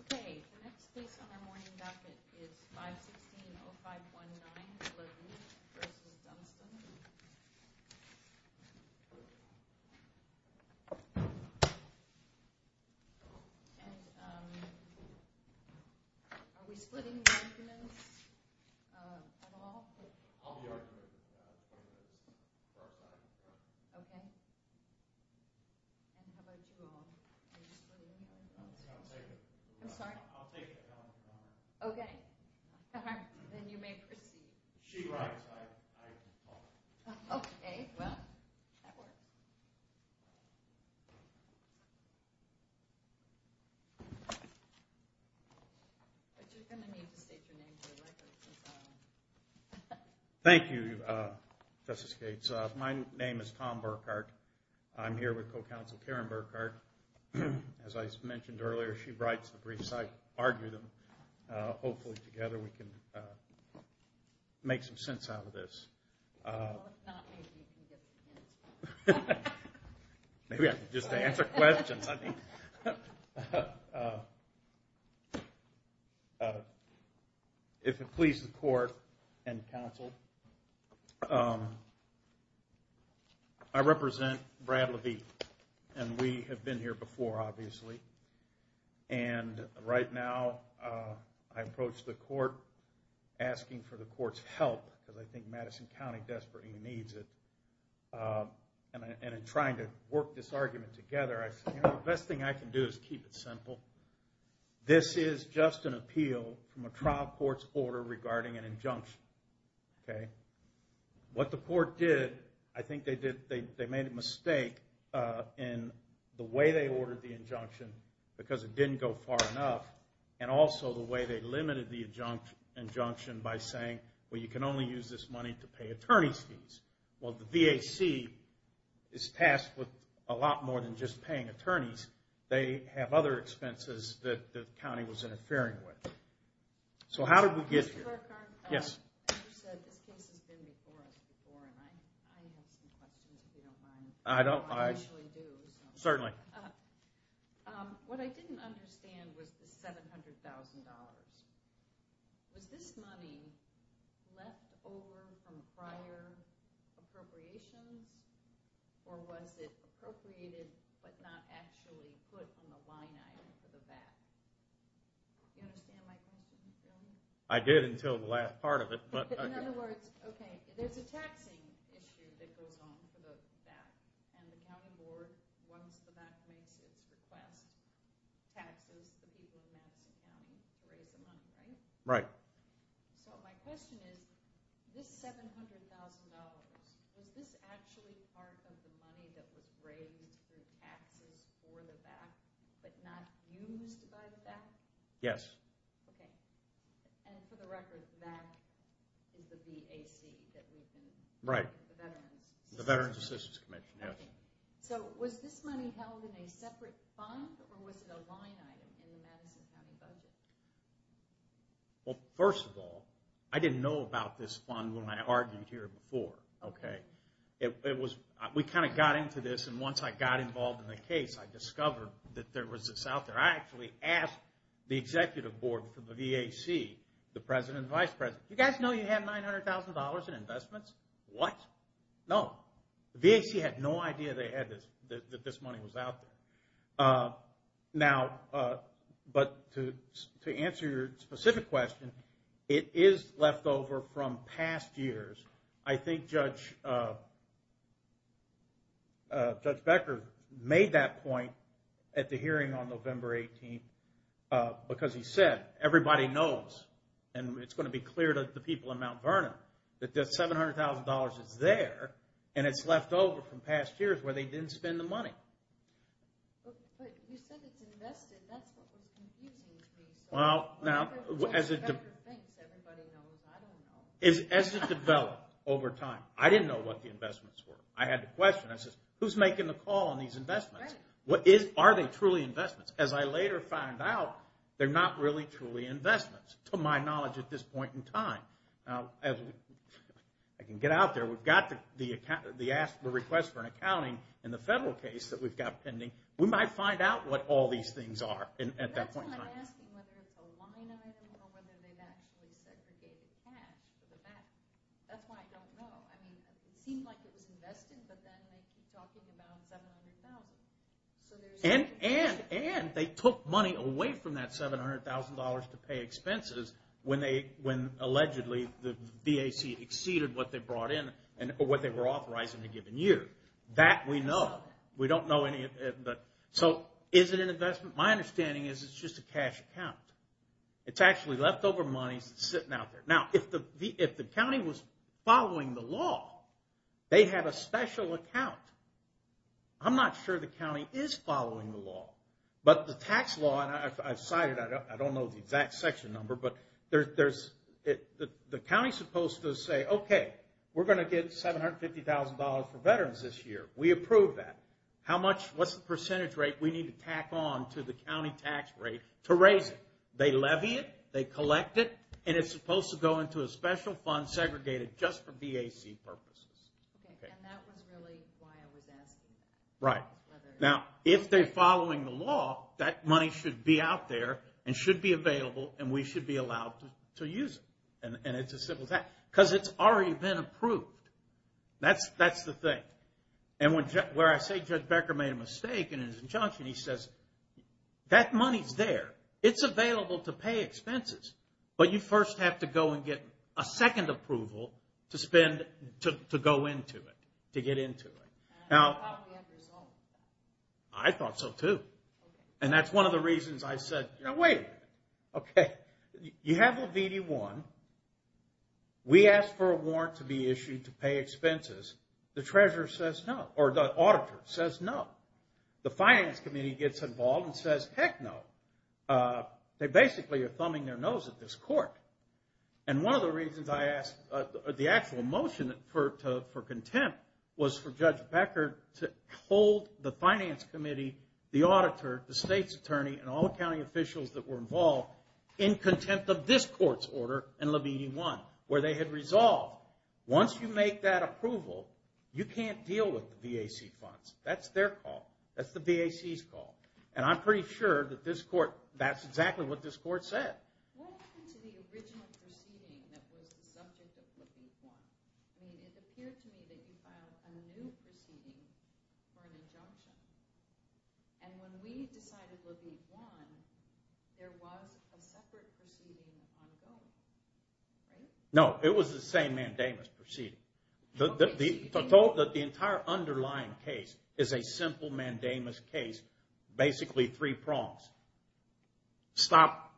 Okay, the next case on our morning backet is 516-0519, Levine v. Dunstan. And, um, are we splitting the arguments at all? I'll be arguing for our final judgment. Okay. And how about you all? Are you splitting? I'll take it. I'm sorry? I'll take it. Okay. Then you may proceed. She writes, I follow. Okay, well, that works. Thank you, Justice Gates. My name is Tom Burkhart. I'm here with Co-Counsel Karen Burkhart. As I mentioned earlier, she writes the briefs. I argue them. Hopefully, together, we can make some sense out of this. Well, if not, maybe you can give us an answer. Maybe I can just answer questions. I mean... If it pleases the Court and Counsel, I represent Brad Levine. And we have been here before, obviously. And right now, I approach the Court asking for the Court's help, because I think Madison County desperately needs it. And in trying to work this argument together, I say, you know, the best thing I can do is keep it simple. This is just an appeal from a trial court's order regarding an injunction. Okay? What the Court did, I think they made a mistake in the way they ordered the injunction, because it didn't go far enough, and also the way they limited the injunction by saying, well, you can only use this money to pay attorney's fees. Well, the VAC is tasked with a lot more than just paying attorneys. They have other expenses that the county was interfering with. So how did we get here? You said this case has been before us before, and I have some questions, if you don't mind. I don't. I usually do. Certainly. What I didn't understand was the $700,000. Was this money left over from prior appropriations, or was it appropriated but not actually put on the line item for the VAC? Do you understand my question? I did until the last part of it. In other words, okay, there's a taxing issue that goes on for the VAC, and the county board, once the VAC makes its request, taxes the people in Madison County to raise the money, right? Right. So my question is, this $700,000, was this actually part of the money that was raised through taxes for the VAC, but not used by the VAC? Yes. Okay. And for the record, that is the VAC that we've been using. Right. The Veterans Assistance Commission. The Veterans Assistance Commission, yes. Okay. So was this money held in a separate fund, or was it a line item in the Madison County budget? Well, first of all, I didn't know about this fund when I argued here before. Okay? We kind of got into this, and once I got involved in the case, I discovered that there was this out there. I actually asked the executive board for the VAC, the president and vice president, do you guys know you have $900,000 in investments? What? No. The VAC had no idea they had this, that this money was out there. Now, but to answer your specific question, it is left over from past years. I think Judge Becker made that point at the hearing on November 18th, because he said everybody knows, and it's going to be clear to the people in Mount Vernon, that this $700,000 is there, and it's left over from past years where they didn't spend the money. But you said it's invested. That's what was confusing to me. Well, now, as it developed. Everybody knows. I don't know. As it developed over time, I didn't know what the investments were. I had to question. I said, who's making the call on these investments? Are they truly investments? As I later found out, they're not really truly investments to my knowledge at this point in time. Now, I can get out there. We've got the request for an accounting in the federal case that we've got pending. We might find out what all these things are at that point in time. I feel like asking whether it's a line item or whether they've actually segregated cash. That's why I don't know. I mean, it seemed like it was invested, but then they keep talking about $700,000. And they took money away from that $700,000 to pay expenses when allegedly the VAC exceeded what they brought in or what they were authorized in a given year. That we know. So is it an investment? My understanding is it's just a cash account. It's actually leftover money sitting out there. Now, if the county was following the law, they have a special account. I'm not sure the county is following the law. But the tax law, and I've cited, I don't know the exact section number, but the county's supposed to say, okay, we're going to get $750,000 for veterans this year. We approve that. What's the percentage rate we need to tack on to the county tax rate to raise it? They levy it. They collect it. And it's supposed to go into a special fund segregated just for VAC purposes. Okay, and that was really why I was asking. Right. Now, if they're following the law, that money should be out there and should be available, and we should be allowed to use it. And it's as simple as that. Because it's already been approved. That's the thing. And where I say Judge Becker made a mistake in his injunction, he says, that money's there. It's available to pay expenses. But you first have to go and get a second approval to go into it, to get into it. I thought we had to resolve it. I thought so, too. And that's one of the reasons I said, you know, wait a minute. Okay, you have a VD-1. We asked for a warrant to be issued to pay expenses. The auditor says no. The finance committee gets involved and says, heck no. They basically are thumbing their nose at this court. And one of the reasons I asked the actual motion for contempt was for Judge Becker to hold the finance committee, the auditor, the state's attorney, and all the county officials that were involved in contempt of this court's order where they had resolved, once you make that approval, you can't deal with the VAC funds. That's their call. That's the VAC's call. And I'm pretty sure that this court, that's exactly what this court said. What happened to the original proceeding that was the subject of what we'd won? I mean, it appeared to me that you filed a new proceeding for an injunction. And when we decided what we'd won, there was a separate proceeding on both, right? No, it was the same mandamus proceeding. The entire underlying case is a simple mandamus case, basically three prongs. Stop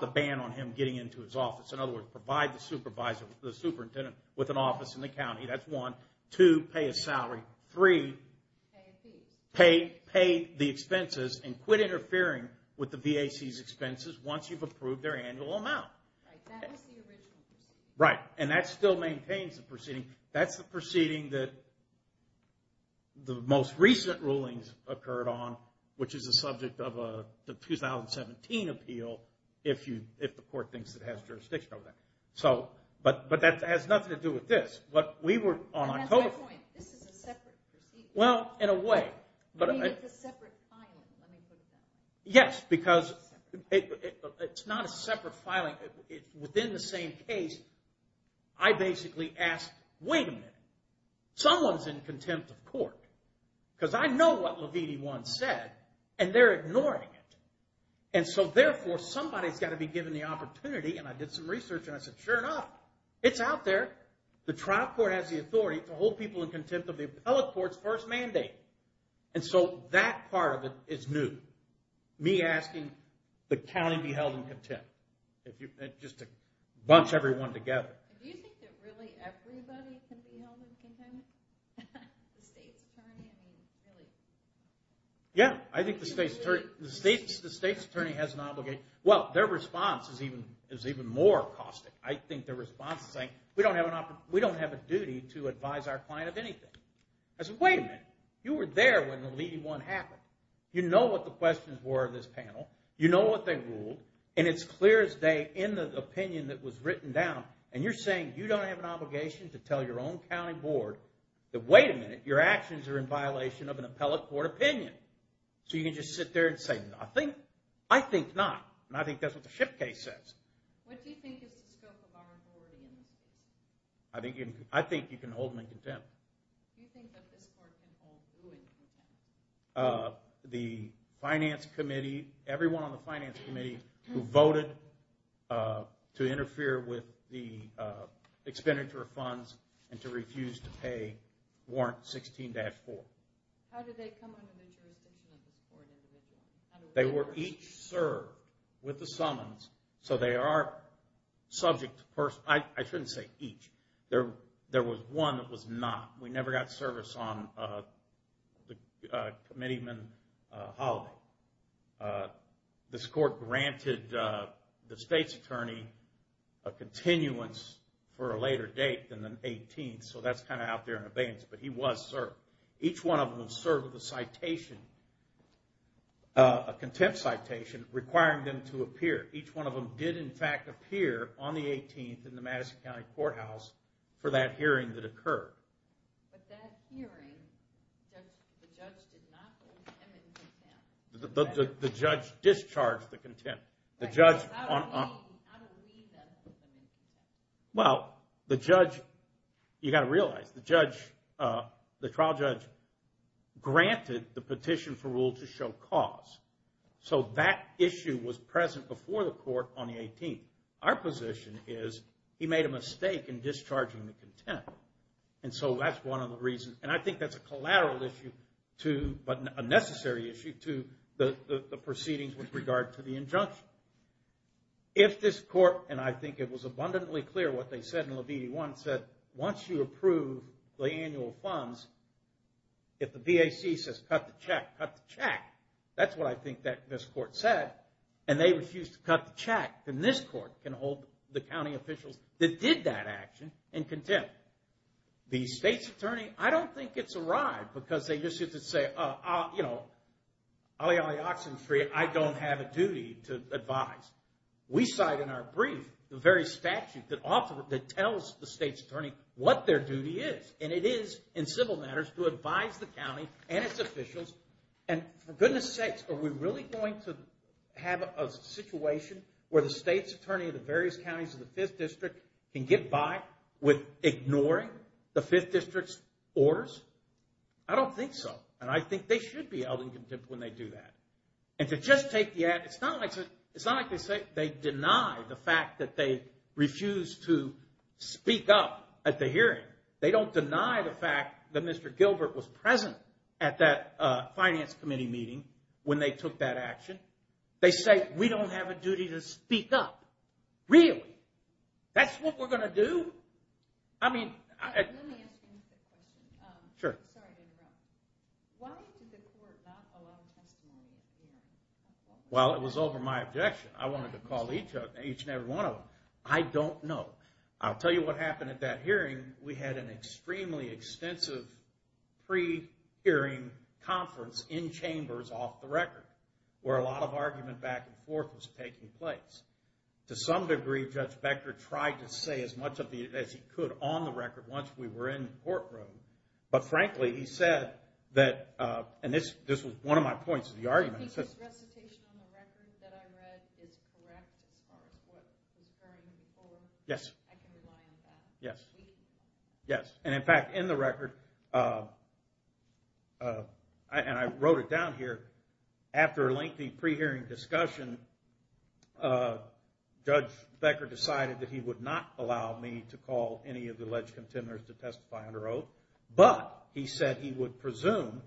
the ban on him getting into his office. In other words, provide the superintendent with an office in the county. That's one. Two, pay a salary. Three, pay the expenses and quit interfering with the VAC's expenses once you've approved their annual amount. Right, that was the original proceeding. Right, and that still maintains the proceeding. That's the proceeding that the most recent rulings occurred on, which is the subject of a 2017 appeal, if the court thinks it has jurisdiction over that. But that has nothing to do with this. And that's my point. This is a separate proceeding. Well, in a way. I mean, it's a separate filing, let me put it that way. Yes, because it's not a separate filing. Within the same case, I basically ask, wait a minute, someone's in contempt of court. Because I know what Levine once said, and they're ignoring it. And so, therefore, somebody's got to be given the opportunity. And I did some research, and I said, sure enough, it's out there. The trial court has the authority to hold people in contempt of the appellate court's first mandate. And so, that part of it is new. Me asking the county to be held in contempt. Just to bunch everyone together. Do you think that really everybody can be held in contempt? The state's attorney? Yeah, I think the state's attorney has an obligation. Well, their response is even more caustic. I think their response is saying, we don't have a duty to advise our client of anything. I said, wait a minute. You were there when the Levy 1 happened. You know what the questions were in this panel. You know what they ruled. And it's clear as day in the opinion that was written down. And you're saying you don't have an obligation to tell your own county board that, wait a minute, your actions are in violation of an appellate court opinion. So, you can just sit there and say, I think not. And I think that's what the Schiff case says. What do you think is the scope of our authority in this case? I think you can hold them in contempt. Do you think that this court can hold who in contempt? The finance committee. Everyone on the finance committee who voted to interfere with the expenditure of funds and to refuse to pay Warrant 16-4. How did they come under the jurisdiction of this court? They were each served with the summons. So, they are subject to personal. I shouldn't say each. There was one that was not. We never got service on the committeeman holiday. This court granted the state's attorney a continuance for a later date than the 18th. So, that's kind of out there in abeyance. But he was served. Each one of them served with a citation, a contempt citation, requiring them to appear. Each one of them did, in fact, appear on the 18th in the Madison County Courthouse for that hearing that occurred. But that hearing, the judge did not hold him in contempt. The judge discharged the contempt. How do we then hold him in contempt? Well, the judge, you've got to realize, the trial judge granted the petition for rule to show cause. So, that issue was present before the court on the 18th. Our position is, he made a mistake in discharging the contempt. And so, that's one of the reasons. And I think that's a collateral issue, but a necessary issue to the proceedings with regard to the injunction. If this court, and I think it was abundantly clear what they said in Levine 1, said, once you approve the annual funds, if the BAC says, cut the check, cut the check, that's what I think this court said, and they refused to cut the check, then this court can hold the county officials that did that action in contempt. The state's attorney, I don't think it's a ride, because they just get to say, you know, olly olly oxen free, I don't have a duty to advise. We cite in our brief the very statute that tells the state's attorney what their duty is. And it is, in civil matters, to advise the county and its officials. And for goodness sakes, are we really going to have a situation where the state's attorney of the various counties of the 5th District can get by with ignoring the 5th District's orders? I don't think so. And I think they should be held in contempt when they do that. And to just take the act, it's not like they deny the fact that they refused to speak up at the hearing. They don't deny the fact that Mr. Gilbert was present at that finance committee meeting when they took that action. They say, we don't have a duty to speak up. Really? That's what we're going to do? I mean... Let me ask you another question. Sure. Sorry to interrupt. Why did the court not allow testimony at the hearing? Well, it was over my objection. I wanted to call each and every one of them. I don't know. I'll tell you what happened at that hearing. We had an extremely extensive pre-hearing conference in chambers off the record, where a lot of argument back and forth was taking place. To some degree, Judge Becker tried to say as much as he could on the record once we were in the courtroom. But frankly, he said that, and this was one of my points of the argument. I think his recitation on the record that I read is correct as far as what he was hearing before. Yes. I can rely on that. Yes. And in fact, in the record, and I wrote it down here, after a lengthy pre-hearing discussion, Judge Becker decided that he would not allow me to call any of the alleged contenders to testify under oath. But he said he would presume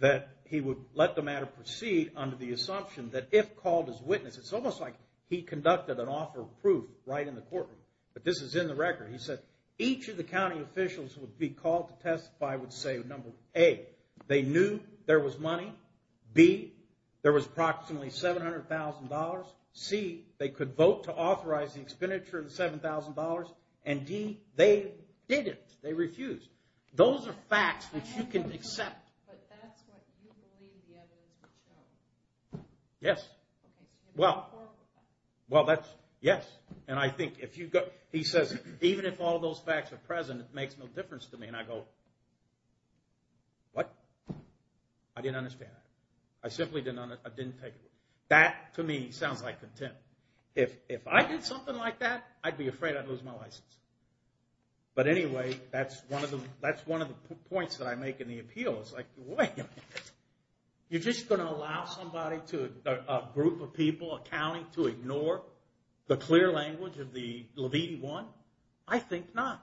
that he would let the matter proceed under the assumption that if called as witness, it's almost like he conducted an offer of proof right in the courtroom. But this is in the record. He said each of the county officials who would be called to testify would say number A, they knew there was money. B, there was approximately $700,000. C, they could vote to authorize the expenditure of $7,000. And D, they didn't. They refused. Those are facts which you can accept. But that's what you believe the evidence would show. Yes. Well, that's yes. And I think if you go, he says, even if all those facts are present, it makes no difference to me. And I go, what? I didn't understand that. I simply didn't take it. That, to me, sounds like contempt. If I did something like that, I'd be afraid I'd lose my license. But anyway, that's one of the points that I make in the appeal. It's like, wait a minute. You're just going to allow somebody to, a group of people, a county, to ignore the clear language of the Levine one? I think not.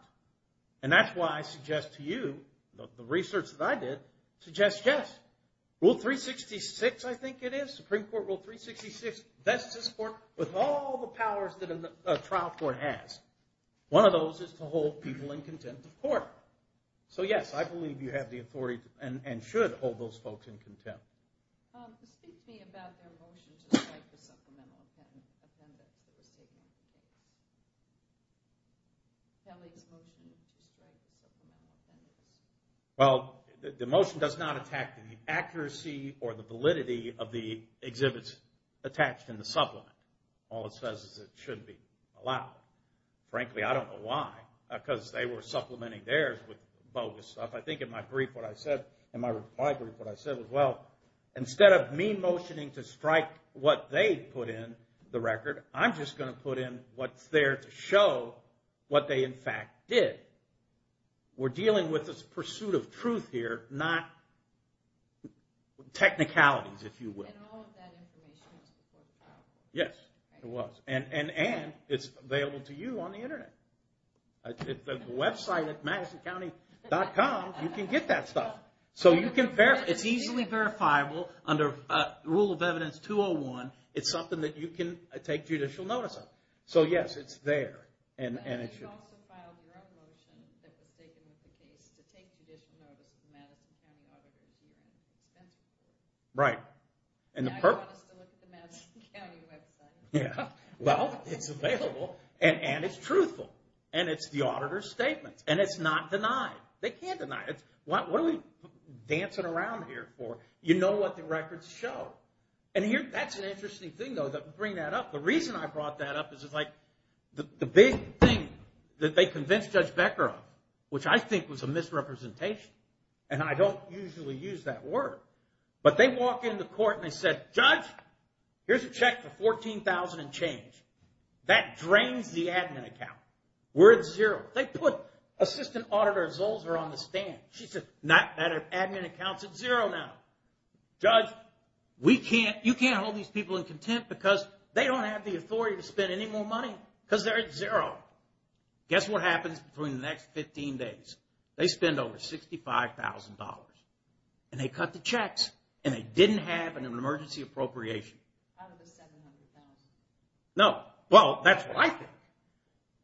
And that's why I suggest to you, the research that I did, suggests yes. Rule 366, I think it is, Supreme Court Rule 366. That's this court with all the powers that a trial court has. One of those is to hold people in contempt of court. So yes, I believe you have the authority and should hold those folks in contempt. Speak to me about their motion to strike the supplemental appendix. Kelly's motion is to strike the supplemental appendix. Well, the motion does not attack the accuracy or the validity of the exhibits attached in the supplement. All it says is it shouldn't be allowed. Frankly, I don't know why. Because they were supplementing theirs with bogus stuff. I think in my brief what I said, in my reply brief what I said was, well, instead of me motioning to strike what they put in the record, I'm just going to put in what's there to show what they in fact did. We're dealing with this pursuit of truth here, not technicalities, if you will. And all of that information was before the trial. Yes, it was. And it's available to you on the Internet. The website at MadisonCounty.com, you can get that stuff. It's easily verifiable under Rule of Evidence 201. It's something that you can take judicial notice of. So yes, it's there. And you also filed your own motion that was taken with the case to take judicial notice of the Madison County Auditors. Right. Now you want us to look at the Madison County website. Well, it's available, and it's truthful. And it's the auditor's statement. And it's not denied. They can't deny it. What are we dancing around here for? You know what the records show. And that's an interesting thing, though, to bring that up. The reason I brought that up is it's like the big thing that they convinced Judge Becker of, which I think was a misrepresentation. And I don't usually use that word. But they walk into court and they said, Judge, here's a check for $14,000 and change. That drains the admin account. We're at zero. They put Assistant Auditor Zolzer on the stand. She said, that admin account's at zero now. Judge, you can't hold these people in contempt because they don't have the authority to spend any more money because they're at zero. Guess what happens between the next 15 days? They spend over $65,000. And they cut the checks. And they didn't have an emergency appropriation. Out of the $700,000. No. Well, that's what I think.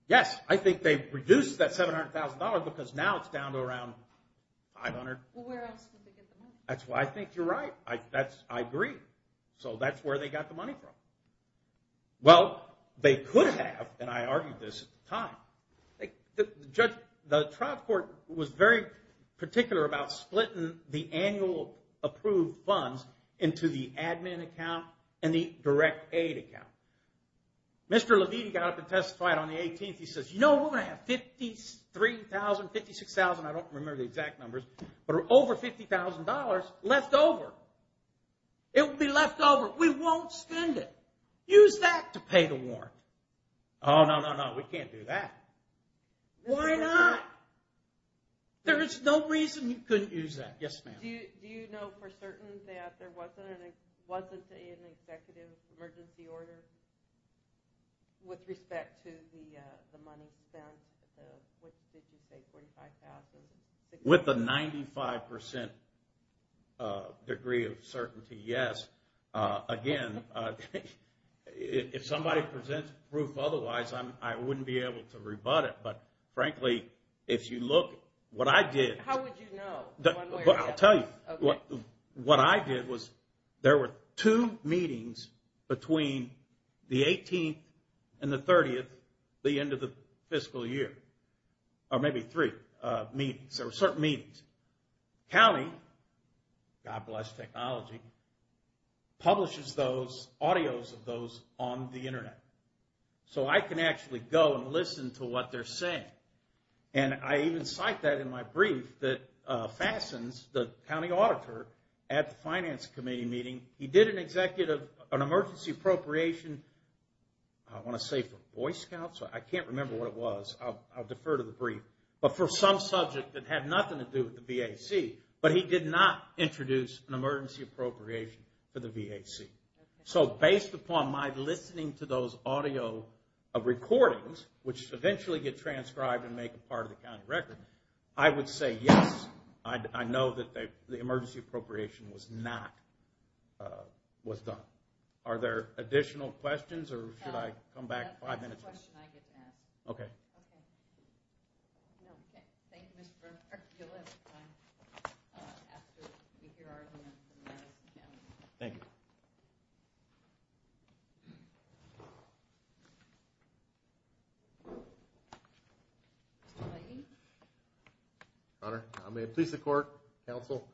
Yes, I think they've reduced that $700,000 because now it's down to around $500. Well, where else would they get the money? That's why I think you're right. I agree. So that's where they got the money from. Well, they could have. And I argued this at the time. The trial court was very particular about splitting the annual approved funds into the admin account and the direct aid account. Mr. Levine got up and testified on the 18th. He says, you know, we're going to have 53,000, 56,000. I don't remember the exact numbers. But over $50,000 left over. It would be left over. We won't spend it. Use that to pay the warrant. Oh, no, no, no. We can't do that. Why not? There is no reason you couldn't use that. Yes, ma'am. Do you know for certain that there wasn't an executive emergency order with respect to the money spent? What did you say, 45,000? With a 95% degree of certainty, yes. Again, if somebody presents proof otherwise, I wouldn't be able to rebut it. But, frankly, if you look, what I did. How would you know? I'll tell you. What I did was there were two meetings between the 18th and the 30th, the end of the fiscal year. Or maybe three meetings. There were certain meetings. County, God bless technology, publishes those, audios of those on the Internet. So I can actually go and listen to what they're saying. And I even cite that in my brief that fastens the county auditor at the finance committee meeting. He did an emergency appropriation, I want to say for Boy Scouts. I can't remember what it was. I'll defer to the brief. But for some subject that had nothing to do with the VAC. But he did not introduce an emergency appropriation for the VAC. So based upon my listening to those audio recordings, which eventually get transcribed and make a part of the county record, I would say, yes, I know that the emergency appropriation was not, was done. Are there additional questions or should I come back five minutes? That's a question I get to ask. Okay. Okay. Thank you, Mr. Burnham. You'll have time after we hear arguments in Madison County. Thank you. Mr. Blayden. Your Honor, may it please the court, counsel,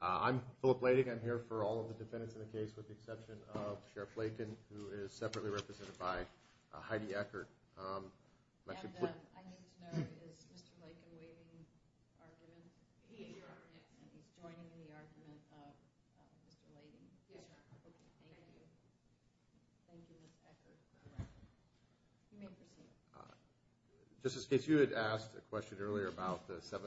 I'm Philip Blayden. I'm here for all of the defendants in the case with the exception of Sheriff Blayden, who is separately represented by Heidi Eckert. And I need to know, is Mr. Blayden joining the argument of Mr. Blayden? Yes, Your Honor. Okay. Thank you, Ms. Eckert. You may proceed. Justice Gates, you had asked a question earlier about the $700,000.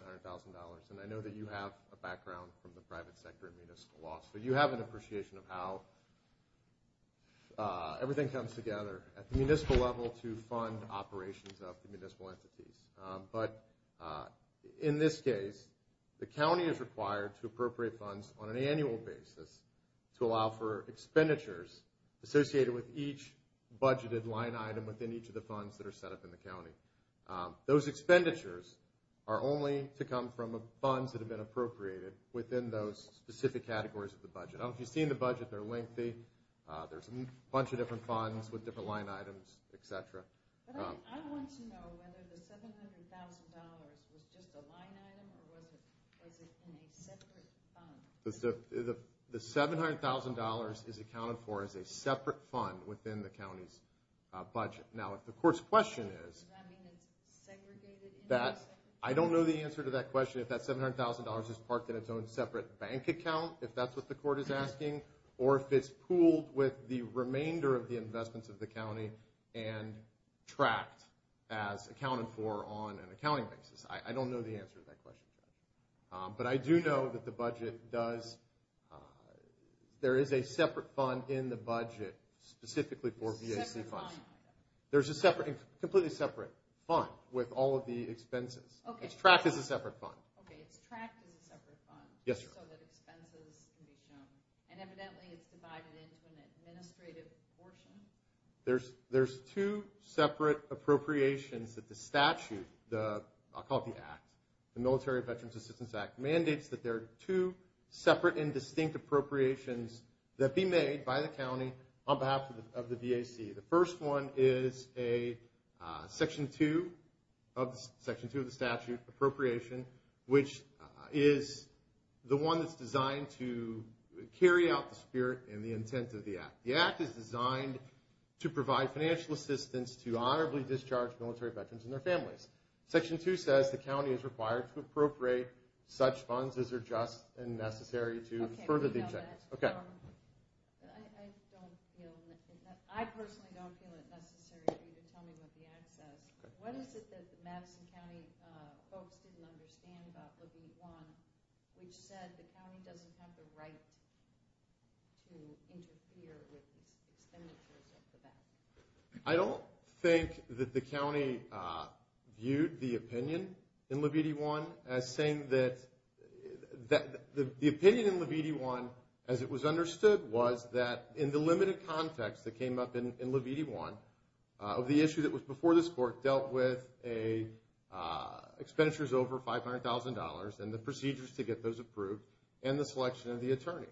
And I know that you have a background from the private sector and municipal law. So you have an appreciation of how everything comes together at the municipal level to fund operations of the municipal entities. But in this case, the county is required to appropriate funds on an annual basis to allow for expenditures associated with each budgeted line item within each of the funds that are set up in the county. Those expenditures are only to come from funds that have been appropriated within those specific categories of the budget. I don't know if you've seen the budget. They're lengthy. There's a bunch of different funds with different line items, et cetera. But I want to know whether the $700,000 was just a line item or was it in a separate fund? The $700,000 is accounted for as a separate fund within the county's budget. Now, if the court's question is that I don't know the answer to that question, if that $700,000 is parked in its own separate bank account, if that's what the court is asking, or if it's pooled with the remainder of the investments of the county and tracked as accounted for on an accounting basis. I don't know the answer to that question. But I do know that there is a separate fund in the budget specifically for VAC funds. There's a completely separate fund with all of the expenses. It's tracked as a separate fund. Okay, it's tracked as a separate fund so that expenses can be shown. And evidently it's divided into an administrative portion. There's two separate appropriations that the statute, I'll call it the act, the Military Veterans Assistance Act, mandates that there are two separate and distinct appropriations that be made by the county on behalf of the VAC. The first one is a Section 2 of the statute appropriation, which is the one that's designed to carry out the spirit and the intent of the act. The act is designed to provide financial assistance to honorably discharged military veterans and their families. Section 2 says the county is required to appropriate such funds as are just and necessary to further the objectives. Okay. I personally don't feel it necessary for you to tell me what the act says. What is it that the Madison County folks didn't understand about Levite I, which said the county doesn't have the right to interfere with expenditures of the VAC? I don't think that the county viewed the opinion in Levite I as saying that the opinion in Levite I, as it was understood, was that in the limited context that came up in Levite I, the issue that was before this court dealt with expenditures over $500,000 and the procedures to get those approved and the selection of the attorney.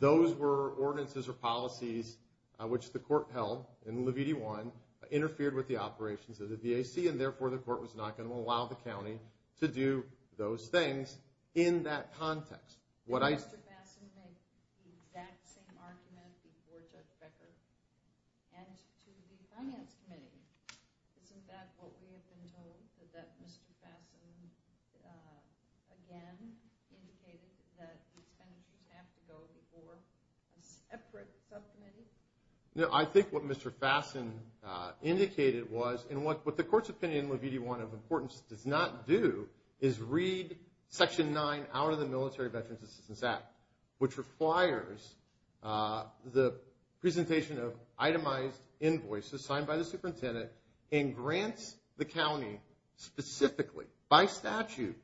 Those were ordinances or policies which the court held in Levite I interfered with the operations of the VAC, and therefore the court was not going to allow the county to do those things in that context. Mr. Fassin made the exact same argument before Judge Becker and to the Finance Committee. Isn't that what we have been told, that Mr. Fassin again indicated that expenditures have to go before a separate subcommittee? No, I think what Mr. Fassin indicated was, and what the court's opinion in Levite I of importance does not do, is read Section 9 out of the Military Veterans Assistance Act, which requires the presentation of itemized invoices signed by the superintendent and grants the county specifically, by statute,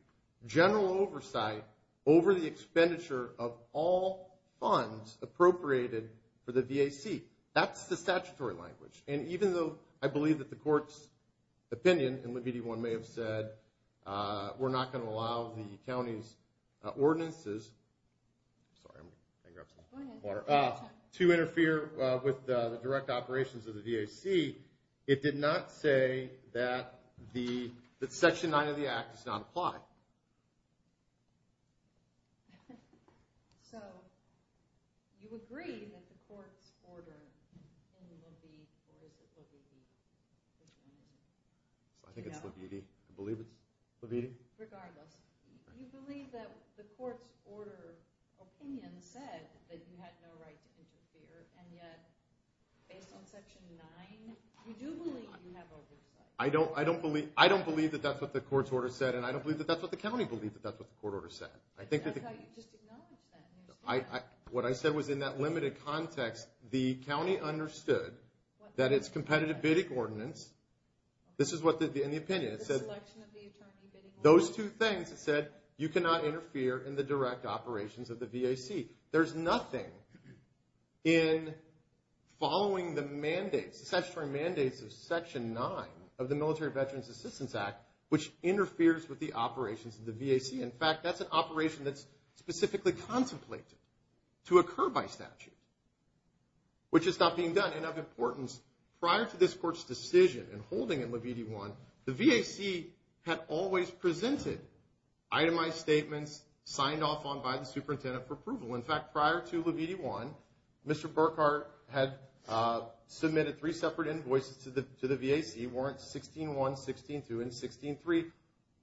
general oversight over the expenditure of all funds appropriated for the VAC. That's the statutory language, and even though I believe that the court's opinion in Levite I may have said, we're not going to allow the county's ordinances to interfere with the direct operations of the VAC, it did not say that Section 9 of the Act does not apply. So you agree that the court's order in Levite, or is it Levite? I think it's Levite. I believe it's Levite. Regardless, do you believe that the court's order opinion said that you had no right to interfere, and yet based on Section 9, you do believe you have oversight? I don't believe that that's what the court's order said, and I don't believe that that's what the county believed that that's what the court order said. I thought you just acknowledged that. What I said was in that limited context, the county understood that its competitive bidding ordinance, this is what the opinion said. The selection of the attorney bidding ordinance. Those two things said you cannot interfere in the direct operations of the VAC. There's nothing in following the mandates, the statutory mandates of Section 9 of the Military Veterans Assistance Act, which interferes with the operations of the VAC. In fact, that's an operation that's specifically contemplated to occur by statute, which is not being done. And of importance, prior to this court's decision in holding in Levite I, the VAC had always presented itemized statements signed off on by the superintendent for approval. In fact, prior to Levite I, Mr. Burkhart had submitted three separate invoices to the VAC, warrants 16-1, 16-2, and 16-3,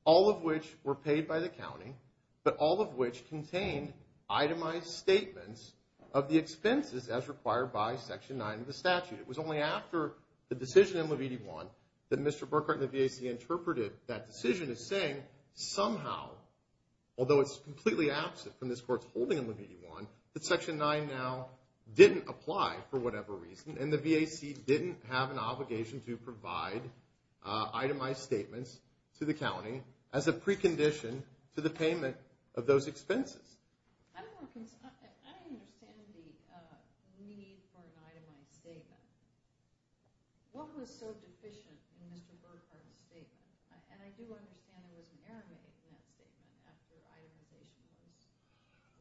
all of which were paid by the county, but all of which contained itemized statements of the expenses as required by Section 9 of the statute. It was only after the decision in Levite I that Mr. Burkhart and the VAC interpreted that decision as saying, somehow, although it's completely absent from this court's holding in Levite I, that Section 9 now didn't apply for whatever reason, and the VAC didn't have an obligation to provide itemized statements to the county as a precondition to the payment of those expenses. I don't understand the need for an itemized statement. What was so deficient in Mr. Burkhart's statement? And I do understand there was an error made in that statement after the itemization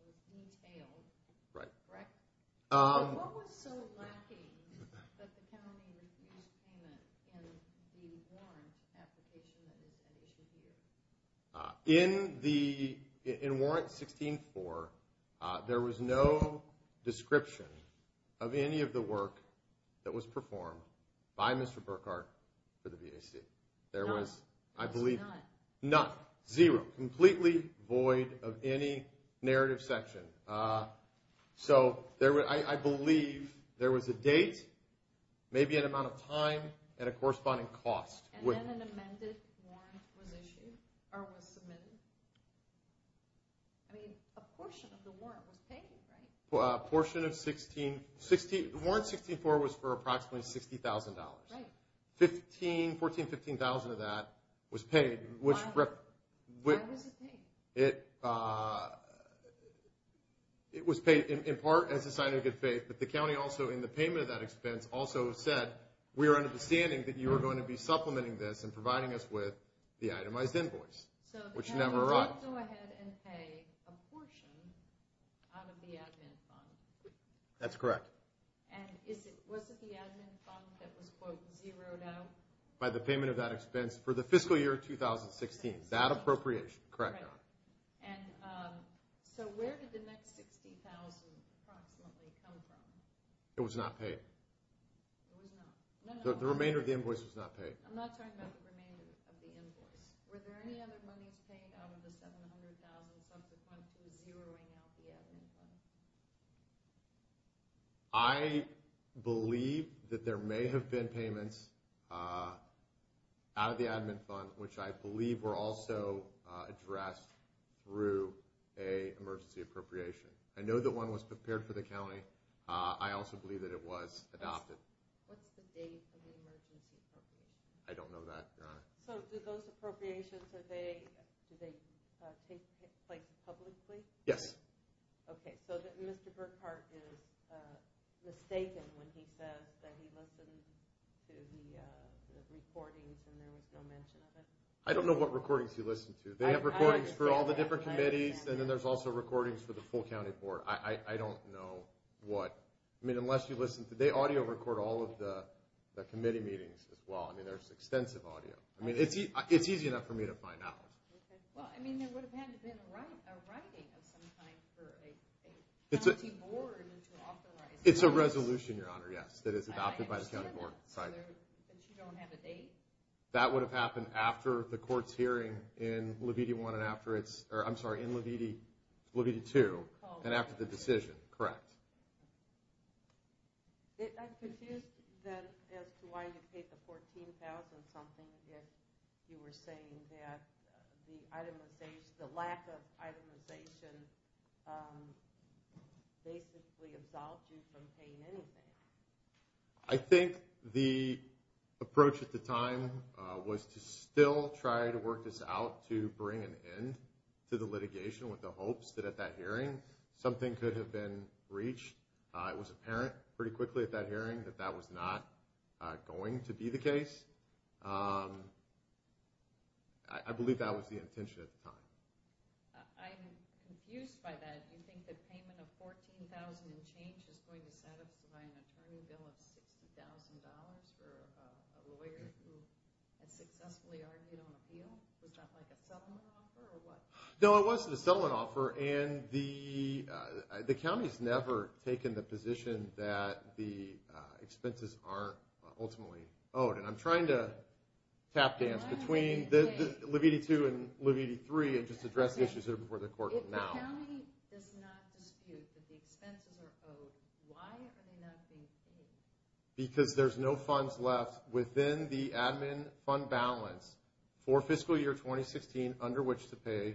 was entailed, correct? What was so lacking that the county refused payment in the warrant application that was submitted? In warrant 16-4, there was no description of any of the work that was performed by Mr. Burkhart for the VAC. There was, I believe… None. None. Zero. Completely void of any narrative section. So, I believe there was a date, maybe an amount of time, and a corresponding cost. And then an amended warrant was issued, or was submitted. I mean, a portion of the warrant was paid, right? A portion of 16-4. Warrant 16-4 was for approximately $60,000. Right. $14,000, $15,000 of that was paid. Why was it paid? It was paid in part as a sign of good faith, but the county also, in the payment of that expense, also said, we are understanding that you are going to be supplementing this and providing us with the itemized invoice, which never arrived. So the county did go ahead and pay a portion out of the admin fund. That's correct. And was it the admin fund that was, quote, zeroed out? By the payment of that expense for the fiscal year 2016. That appropriation, correct. Correct. And so where did the next $60,000 approximately come from? It was not paid. It was not. No, no. The remainder of the invoice was not paid. I'm not talking about the remainder of the invoice. Were there any other monies paid out of the $700,000 subsequently zeroing out the admin fund? I believe that there may have been payments out of the admin fund, which I believe were also addressed through an emergency appropriation. I know that one was prepared for the county. I also believe that it was adopted. What's the date of the emergency appropriation? I don't know that, Your Honor. So do those appropriations, do they take place publicly? Yes. Okay. So Mr. Burkhart is mistaken when he says that he listened to the recordings and there was no mention of it? I don't know what recordings he listened to. They have recordings for all the different committees, and then there's also recordings for the full county board. I don't know what. I mean, unless you listen, they audio record all of the committee meetings as well. I mean, there's extensive audio. I mean, it's easy enough for me to find out. Well, I mean, there would have had to have been a writing of some kind for a county board to authorize. It's a resolution, Your Honor, yes, that is adopted by the county board. I understand that, but you don't have a date? That would have happened after the court's hearing in Leviti 1 and after it's – I'm sorry, in Leviti 2 and after the decision, correct. I'm confused then as to why you paid the $14,000 something if you were saying that the itemization, the lack of itemization basically absolved you from paying anything. I think the approach at the time was to still try to work this out to bring an end to the litigation with the hopes that at that hearing something could have been breached. It was apparent pretty quickly at that hearing that that was not going to be the case. I believe that was the intention at the time. I'm confused by that. Do you think the payment of $14,000 in change is going to set up to buy an attorney bill of $60,000 for a lawyer who has successfully argued on appeal? Was that like a settlement offer or what? No, it wasn't a settlement offer, and the county's never taken the position that the expenses aren't ultimately owed. I'm trying to tap dance between Leviti 2 and Leviti 3 and just address issues here before the court now. If the county does not dispute that the expenses are owed, why are they not being paid? Because there's no funds left within the admin fund balance for fiscal year 2016 under which to pay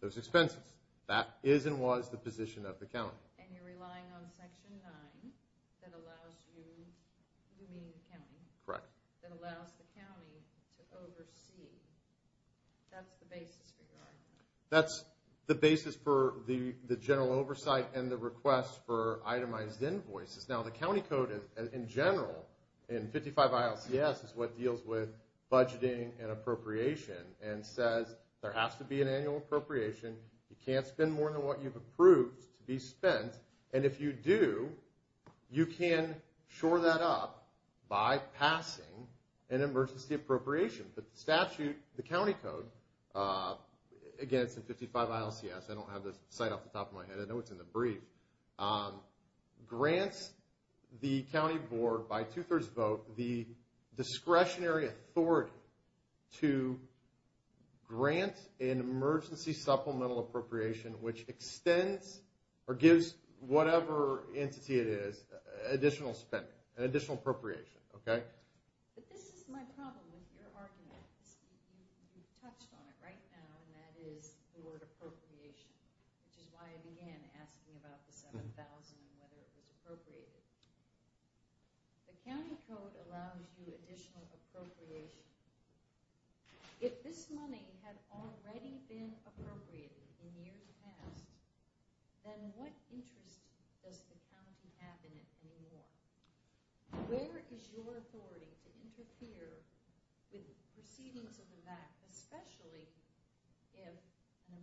those expenses. That is and was the position of the county. And you're relying on Section 9 that allows you to remain county? Correct. That allows the county to oversee. That's the basis for your argument. That's the basis for the general oversight and the request for itemized invoices. Now, the county code, in general, in 55 ILCS, is what deals with budgeting and appropriation and says there has to be an annual appropriation. You can't spend more than what you've approved to be spent. And if you do, you can shore that up by passing an emergency appropriation. The statute, the county code, again, it's in 55 ILCS. I don't have the site off the top of my head. I know it's in the brief. Grants the county board by two-thirds vote the discretionary authority to grant an emergency supplemental appropriation which extends or gives whatever entity it is additional spending, additional appropriation. But this is my problem with your argument. You've touched on it right now, and that is the word appropriation, which is why I began asking about the 7,000 and whether it was appropriated. The county code allows you additional appropriation. If this money had already been appropriated in years past, then what interest does the county have in it anymore? Where is your authority to interfere with proceedings of the VAC, especially if the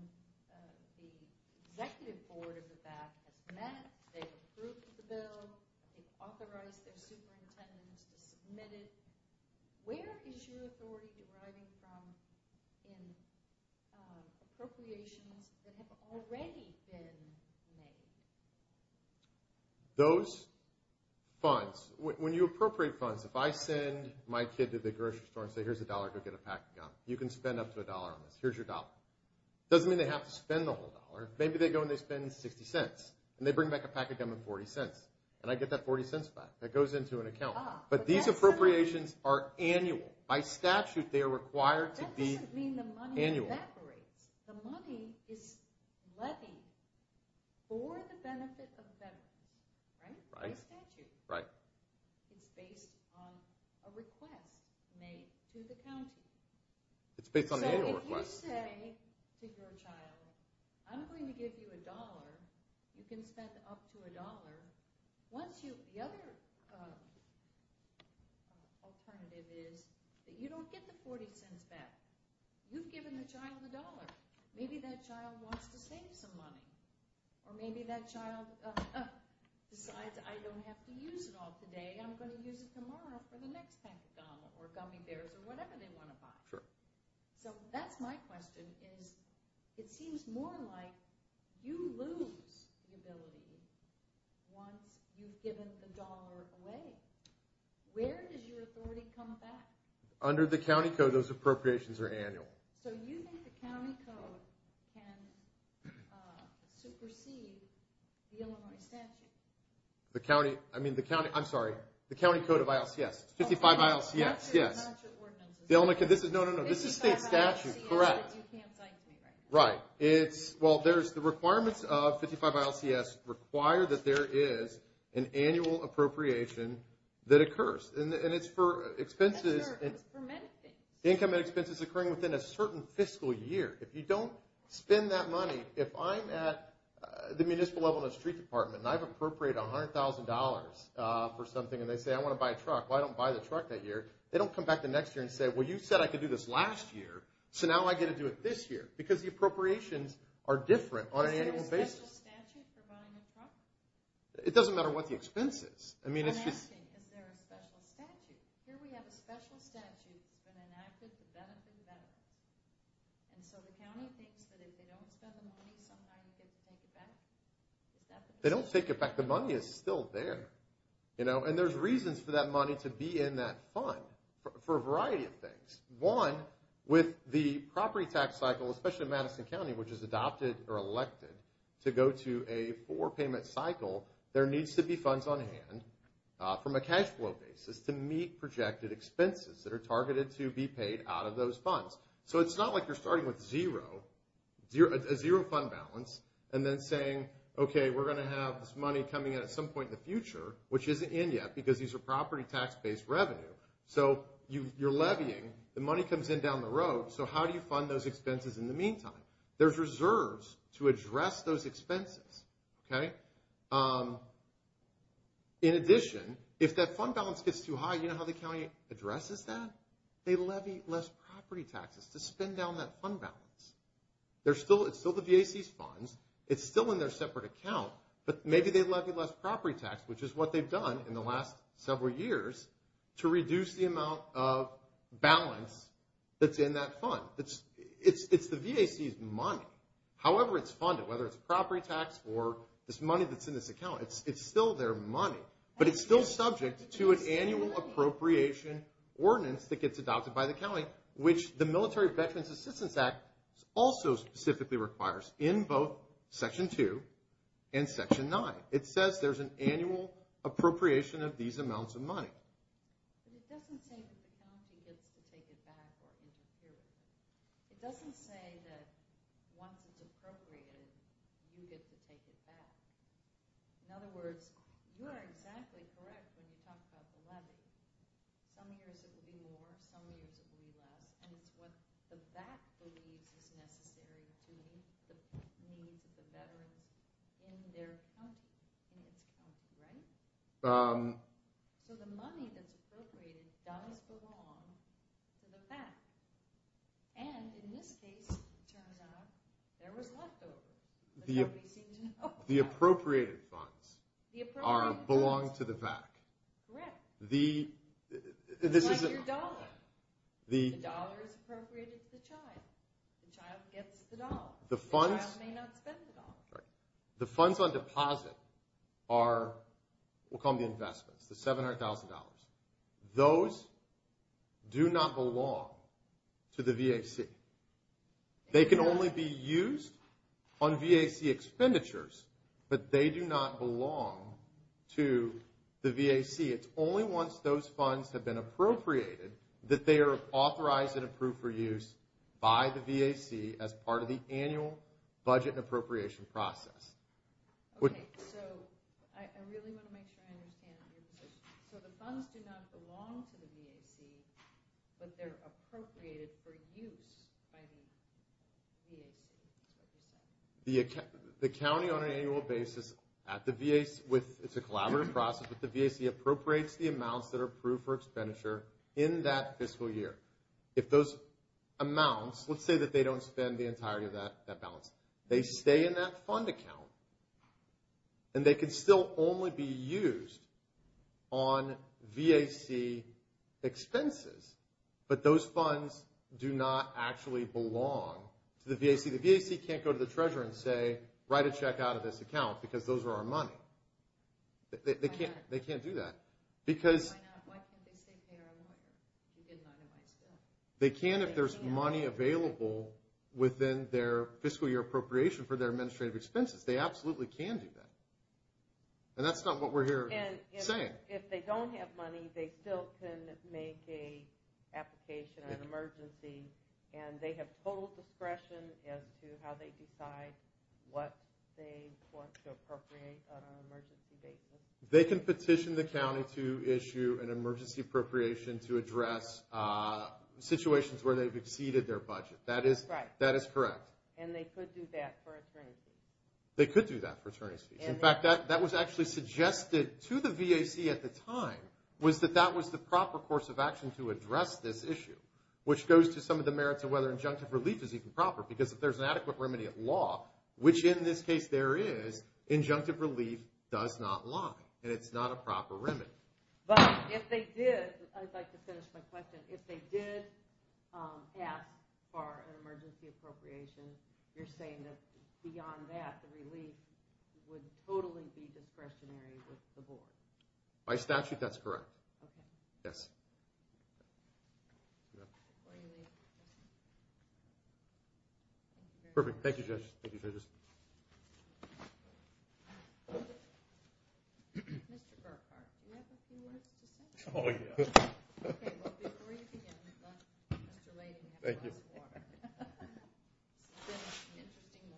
executive board of the VAC has met, they've approved the bill, they've authorized their superintendent to submit it. Where is your authority deriving from in appropriations that have already been made? Those funds, when you appropriate funds, if I send my kid to the grocery store and say, here's a dollar, go get a pack of gum, you can spend up to a dollar on this. Here's your dollar. It doesn't mean they have to spend the whole dollar. Maybe they go and they spend 60 cents, and they bring back a pack of gum and 40 cents, and I get that 40 cents back. That goes into an account. But these appropriations are annual. By statute, they are required to be annual. That doesn't mean the money evaporates. The money is levy for the benefit of them. Right? By statute. Right. It's based on a request made to the county. It's based on the annual request. So if you say to your child, I'm going to give you a dollar. You can spend up to a dollar. The other alternative is that you don't get the 40 cents back. You've given the child a dollar. Maybe that child wants to save some money. Or maybe that child decides, I don't have to use it all today. I'm going to use it tomorrow for the next pack of gum or gummy bears or whatever they want to buy. So that's my question. It seems more like you lose the ability once you've given the dollar away. Where does your authority come back? Under the county code, those appropriations are annual. So you think the county code can supersede the Illinois statute? The county, I'm sorry, the county code of ILCS. 55 ILCS, yes. No, no, no. This is state statute. Correct. Right. Well, the requirements of 55 ILCS require that there is an annual appropriation that occurs. And it's for expenses. It's for many things. Income and expenses occurring within a certain fiscal year. If you don't spend that money, if I'm at the municipal level in a street department and I've appropriated $100,000 for something and they say, I want to buy a truck, I don't buy the truck that year, they don't come back the next year and say, well, you said I could do this last year, so now I get to do it this year. Because the appropriations are different on an annual basis. Is there a special statute for buying a truck? It doesn't matter what the expense is. I'm asking, is there a special statute? Here we have a special statute that enacted to benefit them. And so the county thinks that if they don't spend the money, sometimes they can take it back? They don't take it back. The money is still there. And there's reasons for that money to be in that fund for a variety of things. One, with the property tax cycle, especially in Madison County, which is adopted or elected to go to a four-payment cycle, there needs to be funds on hand from a cash flow basis to meet projected expenses that are targeted to be paid out of those funds. So it's not like you're starting with zero, a zero fund balance, and then saying, okay, we're going to have this money coming in at some point in the future, which isn't in yet because these are property tax-based revenue. So you're levying. The money comes in down the road. So how do you fund those expenses in the meantime? There's reserves to address those expenses. In addition, if that fund balance gets too high, you know how the county addresses that? They levy less property taxes to spend down that fund balance. It's still the VAC's funds. It's still in their separate account. But maybe they levy less property tax, which is what they've done in the last several years, to reduce the amount of balance that's in that fund. It's the VAC's money. However it's funded, whether it's property tax or this money that's in this account, it's still their money. But it's still subject to an annual appropriation ordinance that gets adopted by the county, which the Military Veterans Assistance Act also specifically requires in both Section 2 and Section 9. It says there's an annual appropriation of these amounts of money. But it doesn't say that the county gets to take it back or even do it. It doesn't say that once it's appropriated, you get to take it back. In other words, you are exactly correct when you talk about the levy. Some years it would be more, some years it would be less. And it's what the VAC believes is necessary to meet the needs of the veterans in their country. So the money that's appropriated does belong to the VAC. And in this case, it turns out, there was left over. The appropriated funds belong to the VAC. Correct. It's like your dollar. The dollar is appropriated to the child. The child gets the dollar. The child may not spend the dollar. The funds on deposit are what we'll call the investments, the $700,000. Those do not belong to the VAC. They can only be used on VAC expenditures, but they do not belong to the VAC. It's only once those funds have been appropriated that they are authorized and approved for use by the VAC as part of the annual budget appropriation process. Okay, so I really want to make sure I understand your position. So the funds do not belong to the VAC, but they're appropriated for use by the VAC. The county on an annual basis at the VAC, it's a collaborative process, but the VAC appropriates the amounts that are approved for expenditure in that fiscal year. If those amounts, let's say that they don't spend the entirety of that balance, they stay in that fund account, and they can still only be used on VAC expenses, but those funds do not actually belong to the VAC. The VAC can't go to the treasurer and say, write a check out of this account because those are our money. They can't do that. Why not? Why can't they say, pay our loan? We did not minimize that. They can if there's money available within their fiscal year appropriation for their administrative expenses. They absolutely can do that. And that's not what we're here saying. And if they don't have money, they still can make an application on an emergency, and they have total discretion as to how they decide what they want to appropriate on an emergency basis. They can petition the county to issue an emergency appropriation to address situations where they've exceeded their budget. That is correct. And they could do that for attorney's fees. They could do that for attorney's fees. In fact, that was actually suggested to the VAC at the time, was that that was the proper course of action to address this issue, which goes to some of the merits of whether injunctive relief is even proper, because if there's an adequate remedy at law, which in this case there is, injunctive relief does not lie, and it's not a proper remedy. But if they did, I'd like to finish my question. If they did ask for an emergency appropriation, you're saying that beyond that, the relief would totally be discretionary with the board? By statute, that's correct. Yes. Perfect. Thank you, judges. Mr. Burkhart, do you have a few words to say? Oh, yeah. Okay. Well, before you begin, Mr. Layden, you have a glass of water. Thank you. This has been an interesting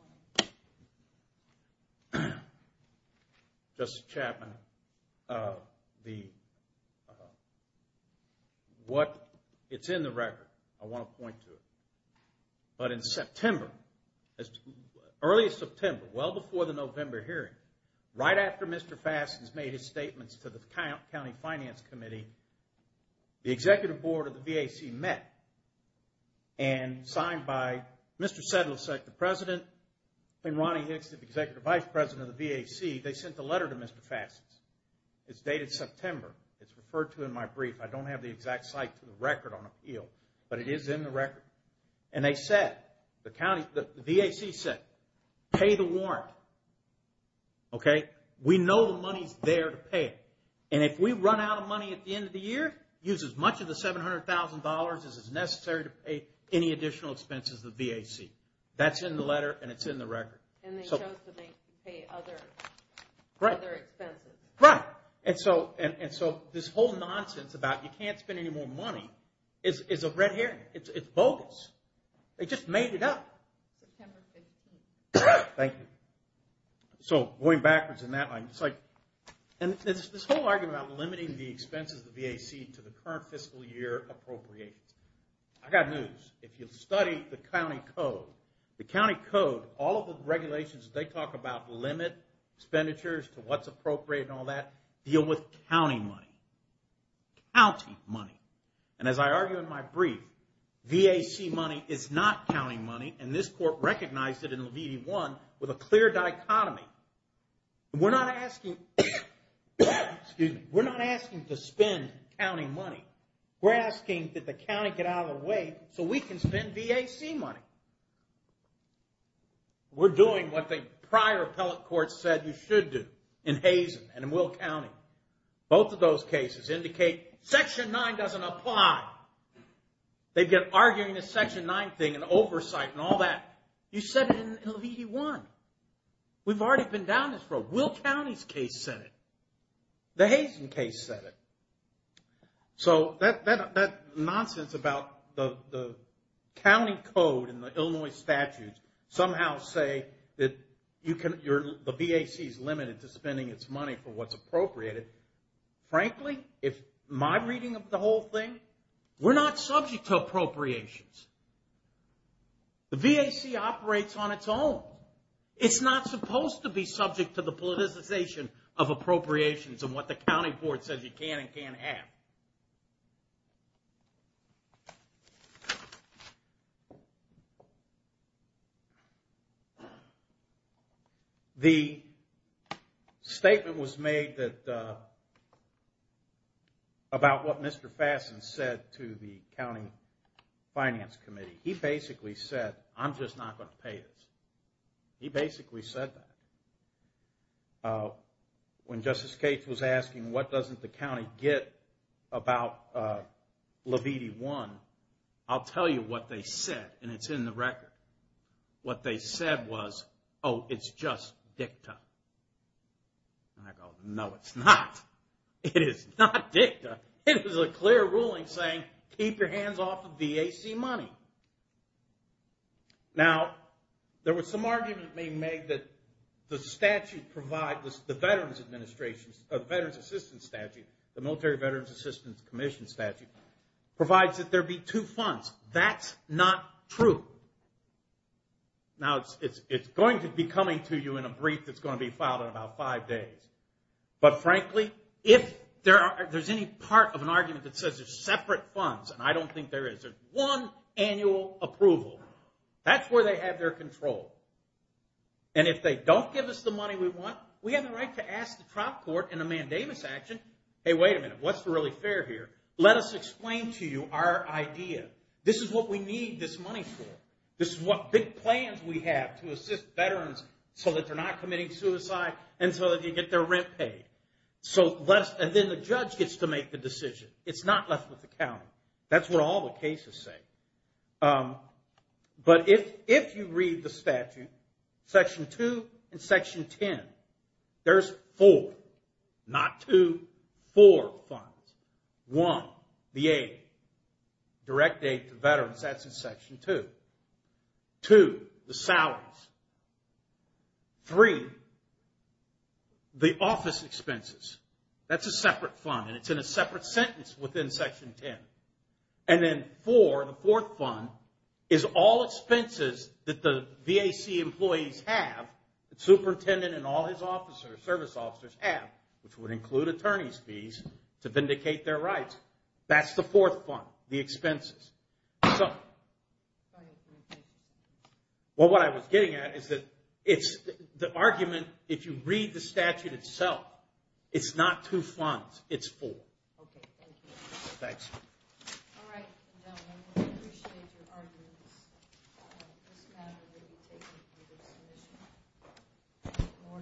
morning. Justice Chapman, what is in the record, I want to point to it. But in September, early September, well before the November hearing, right after Mr. Fassin's made his statements to the county finance committee, the executive board of the VAC met and signed by Mr. Sedlicek, the president, and Ronnie Hicks, the executive vice president of the VAC, they sent a letter to Mr. Fassin. It's dated September. It's referred to in my brief. I don't have the exact site to the record on appeal, but it is in the record. And they said, the VAC said, pay the warrant. Okay? We know the money's there to pay it. And if we run out of money at the end of the year, use as much of the $700,000 as is necessary to pay any additional expenses of the VAC. That's in the letter, and it's in the record. And they chose to make you pay other expenses. Right. And so this whole nonsense about you can't spend any more money is a red herring. It's bogus. They just made it up. September 15th. Thank you. So going backwards in that line, it's like, and this whole argument about limiting the expenses of the VAC to the current fiscal year appropriations. I got news. If you study the county code, the county code, all of the regulations they talk about limit expenditures to what's appropriate and all that, deal with county money. County money. And as I argue in my brief, VAC money is not county money, and this court recognized it in Levine 1 with a clear dichotomy. We're not asking to spend county money. We're asking that the county get out of the way so we can spend VAC money. We're doing what the prior appellate court said you should do in Hazen and in Will County. Both of those cases indicate Section 9 doesn't apply. They get arguing the Section 9 thing and oversight and all that. You said it in Levine 1. We've already been down this road. Will County's case said it. The Hazen case said it. So that nonsense about the county code and the Illinois statutes somehow say that the VAC is limited to spending its money for what's appropriated, frankly, in my reading of the whole thing, we're not subject to appropriations. The VAC operates on its own. It's not supposed to be subject to the politicization of appropriations and what the county court says you can and can't have. The statement was made about what Mr. Fassen said to the county finance committee. He basically said, I'm just not going to pay this. He basically said that. When Justice Gates was asking what doesn't the county get about Levine 1, I'll tell you what they said, and it's in the record. What they said was, oh, it's just dicta. And I go, no, it's not. It is not dicta. It is a clear ruling saying keep your hands off the VAC money. Now, there was some argument being made that the statute provides, the Veterans Assistance Statute, the Military Veterans Assistance Commission Statute, provides that there be two funds. That's not true. Now, it's going to be coming to you in a brief that's going to be filed in about five days. But frankly, if there's any part of an argument that says there's separate funds, and I don't think there is, there's one annual approval, that's where they have their control. And if they don't give us the money we want, we have the right to ask the trial court in a mandamus action, hey, wait a minute, what's really fair here? Let us explain to you our idea. This is what we need this money for. This is what big plans we have to assist veterans so that they're not committing suicide and so that they get their rent paid. And then the judge gets to make the decision. It's not left with the county. That's what all the cases say. But if you read the statute, Section 2 and Section 10, there's four, not two, four funds. One, the aid, direct aid to veterans, that's in Section 2. Two, the salaries. Three, the office expenses. That's a separate fund, and it's in a separate sentence within Section 10. And then four, the fourth fund, is all expenses that the VAC employees have, the superintendent and all his officers, service officers have, which would include attorney's fees to vindicate their rights. That's the fourth fund, the expenses. So what I was getting at is that it's the argument, if you read the statute itself, it's not two funds, it's four. Okay, thank you. Thanks. All right. I appreciate your arguments. This matter will be taken to the submission. The board will issue a divorce. Thank you.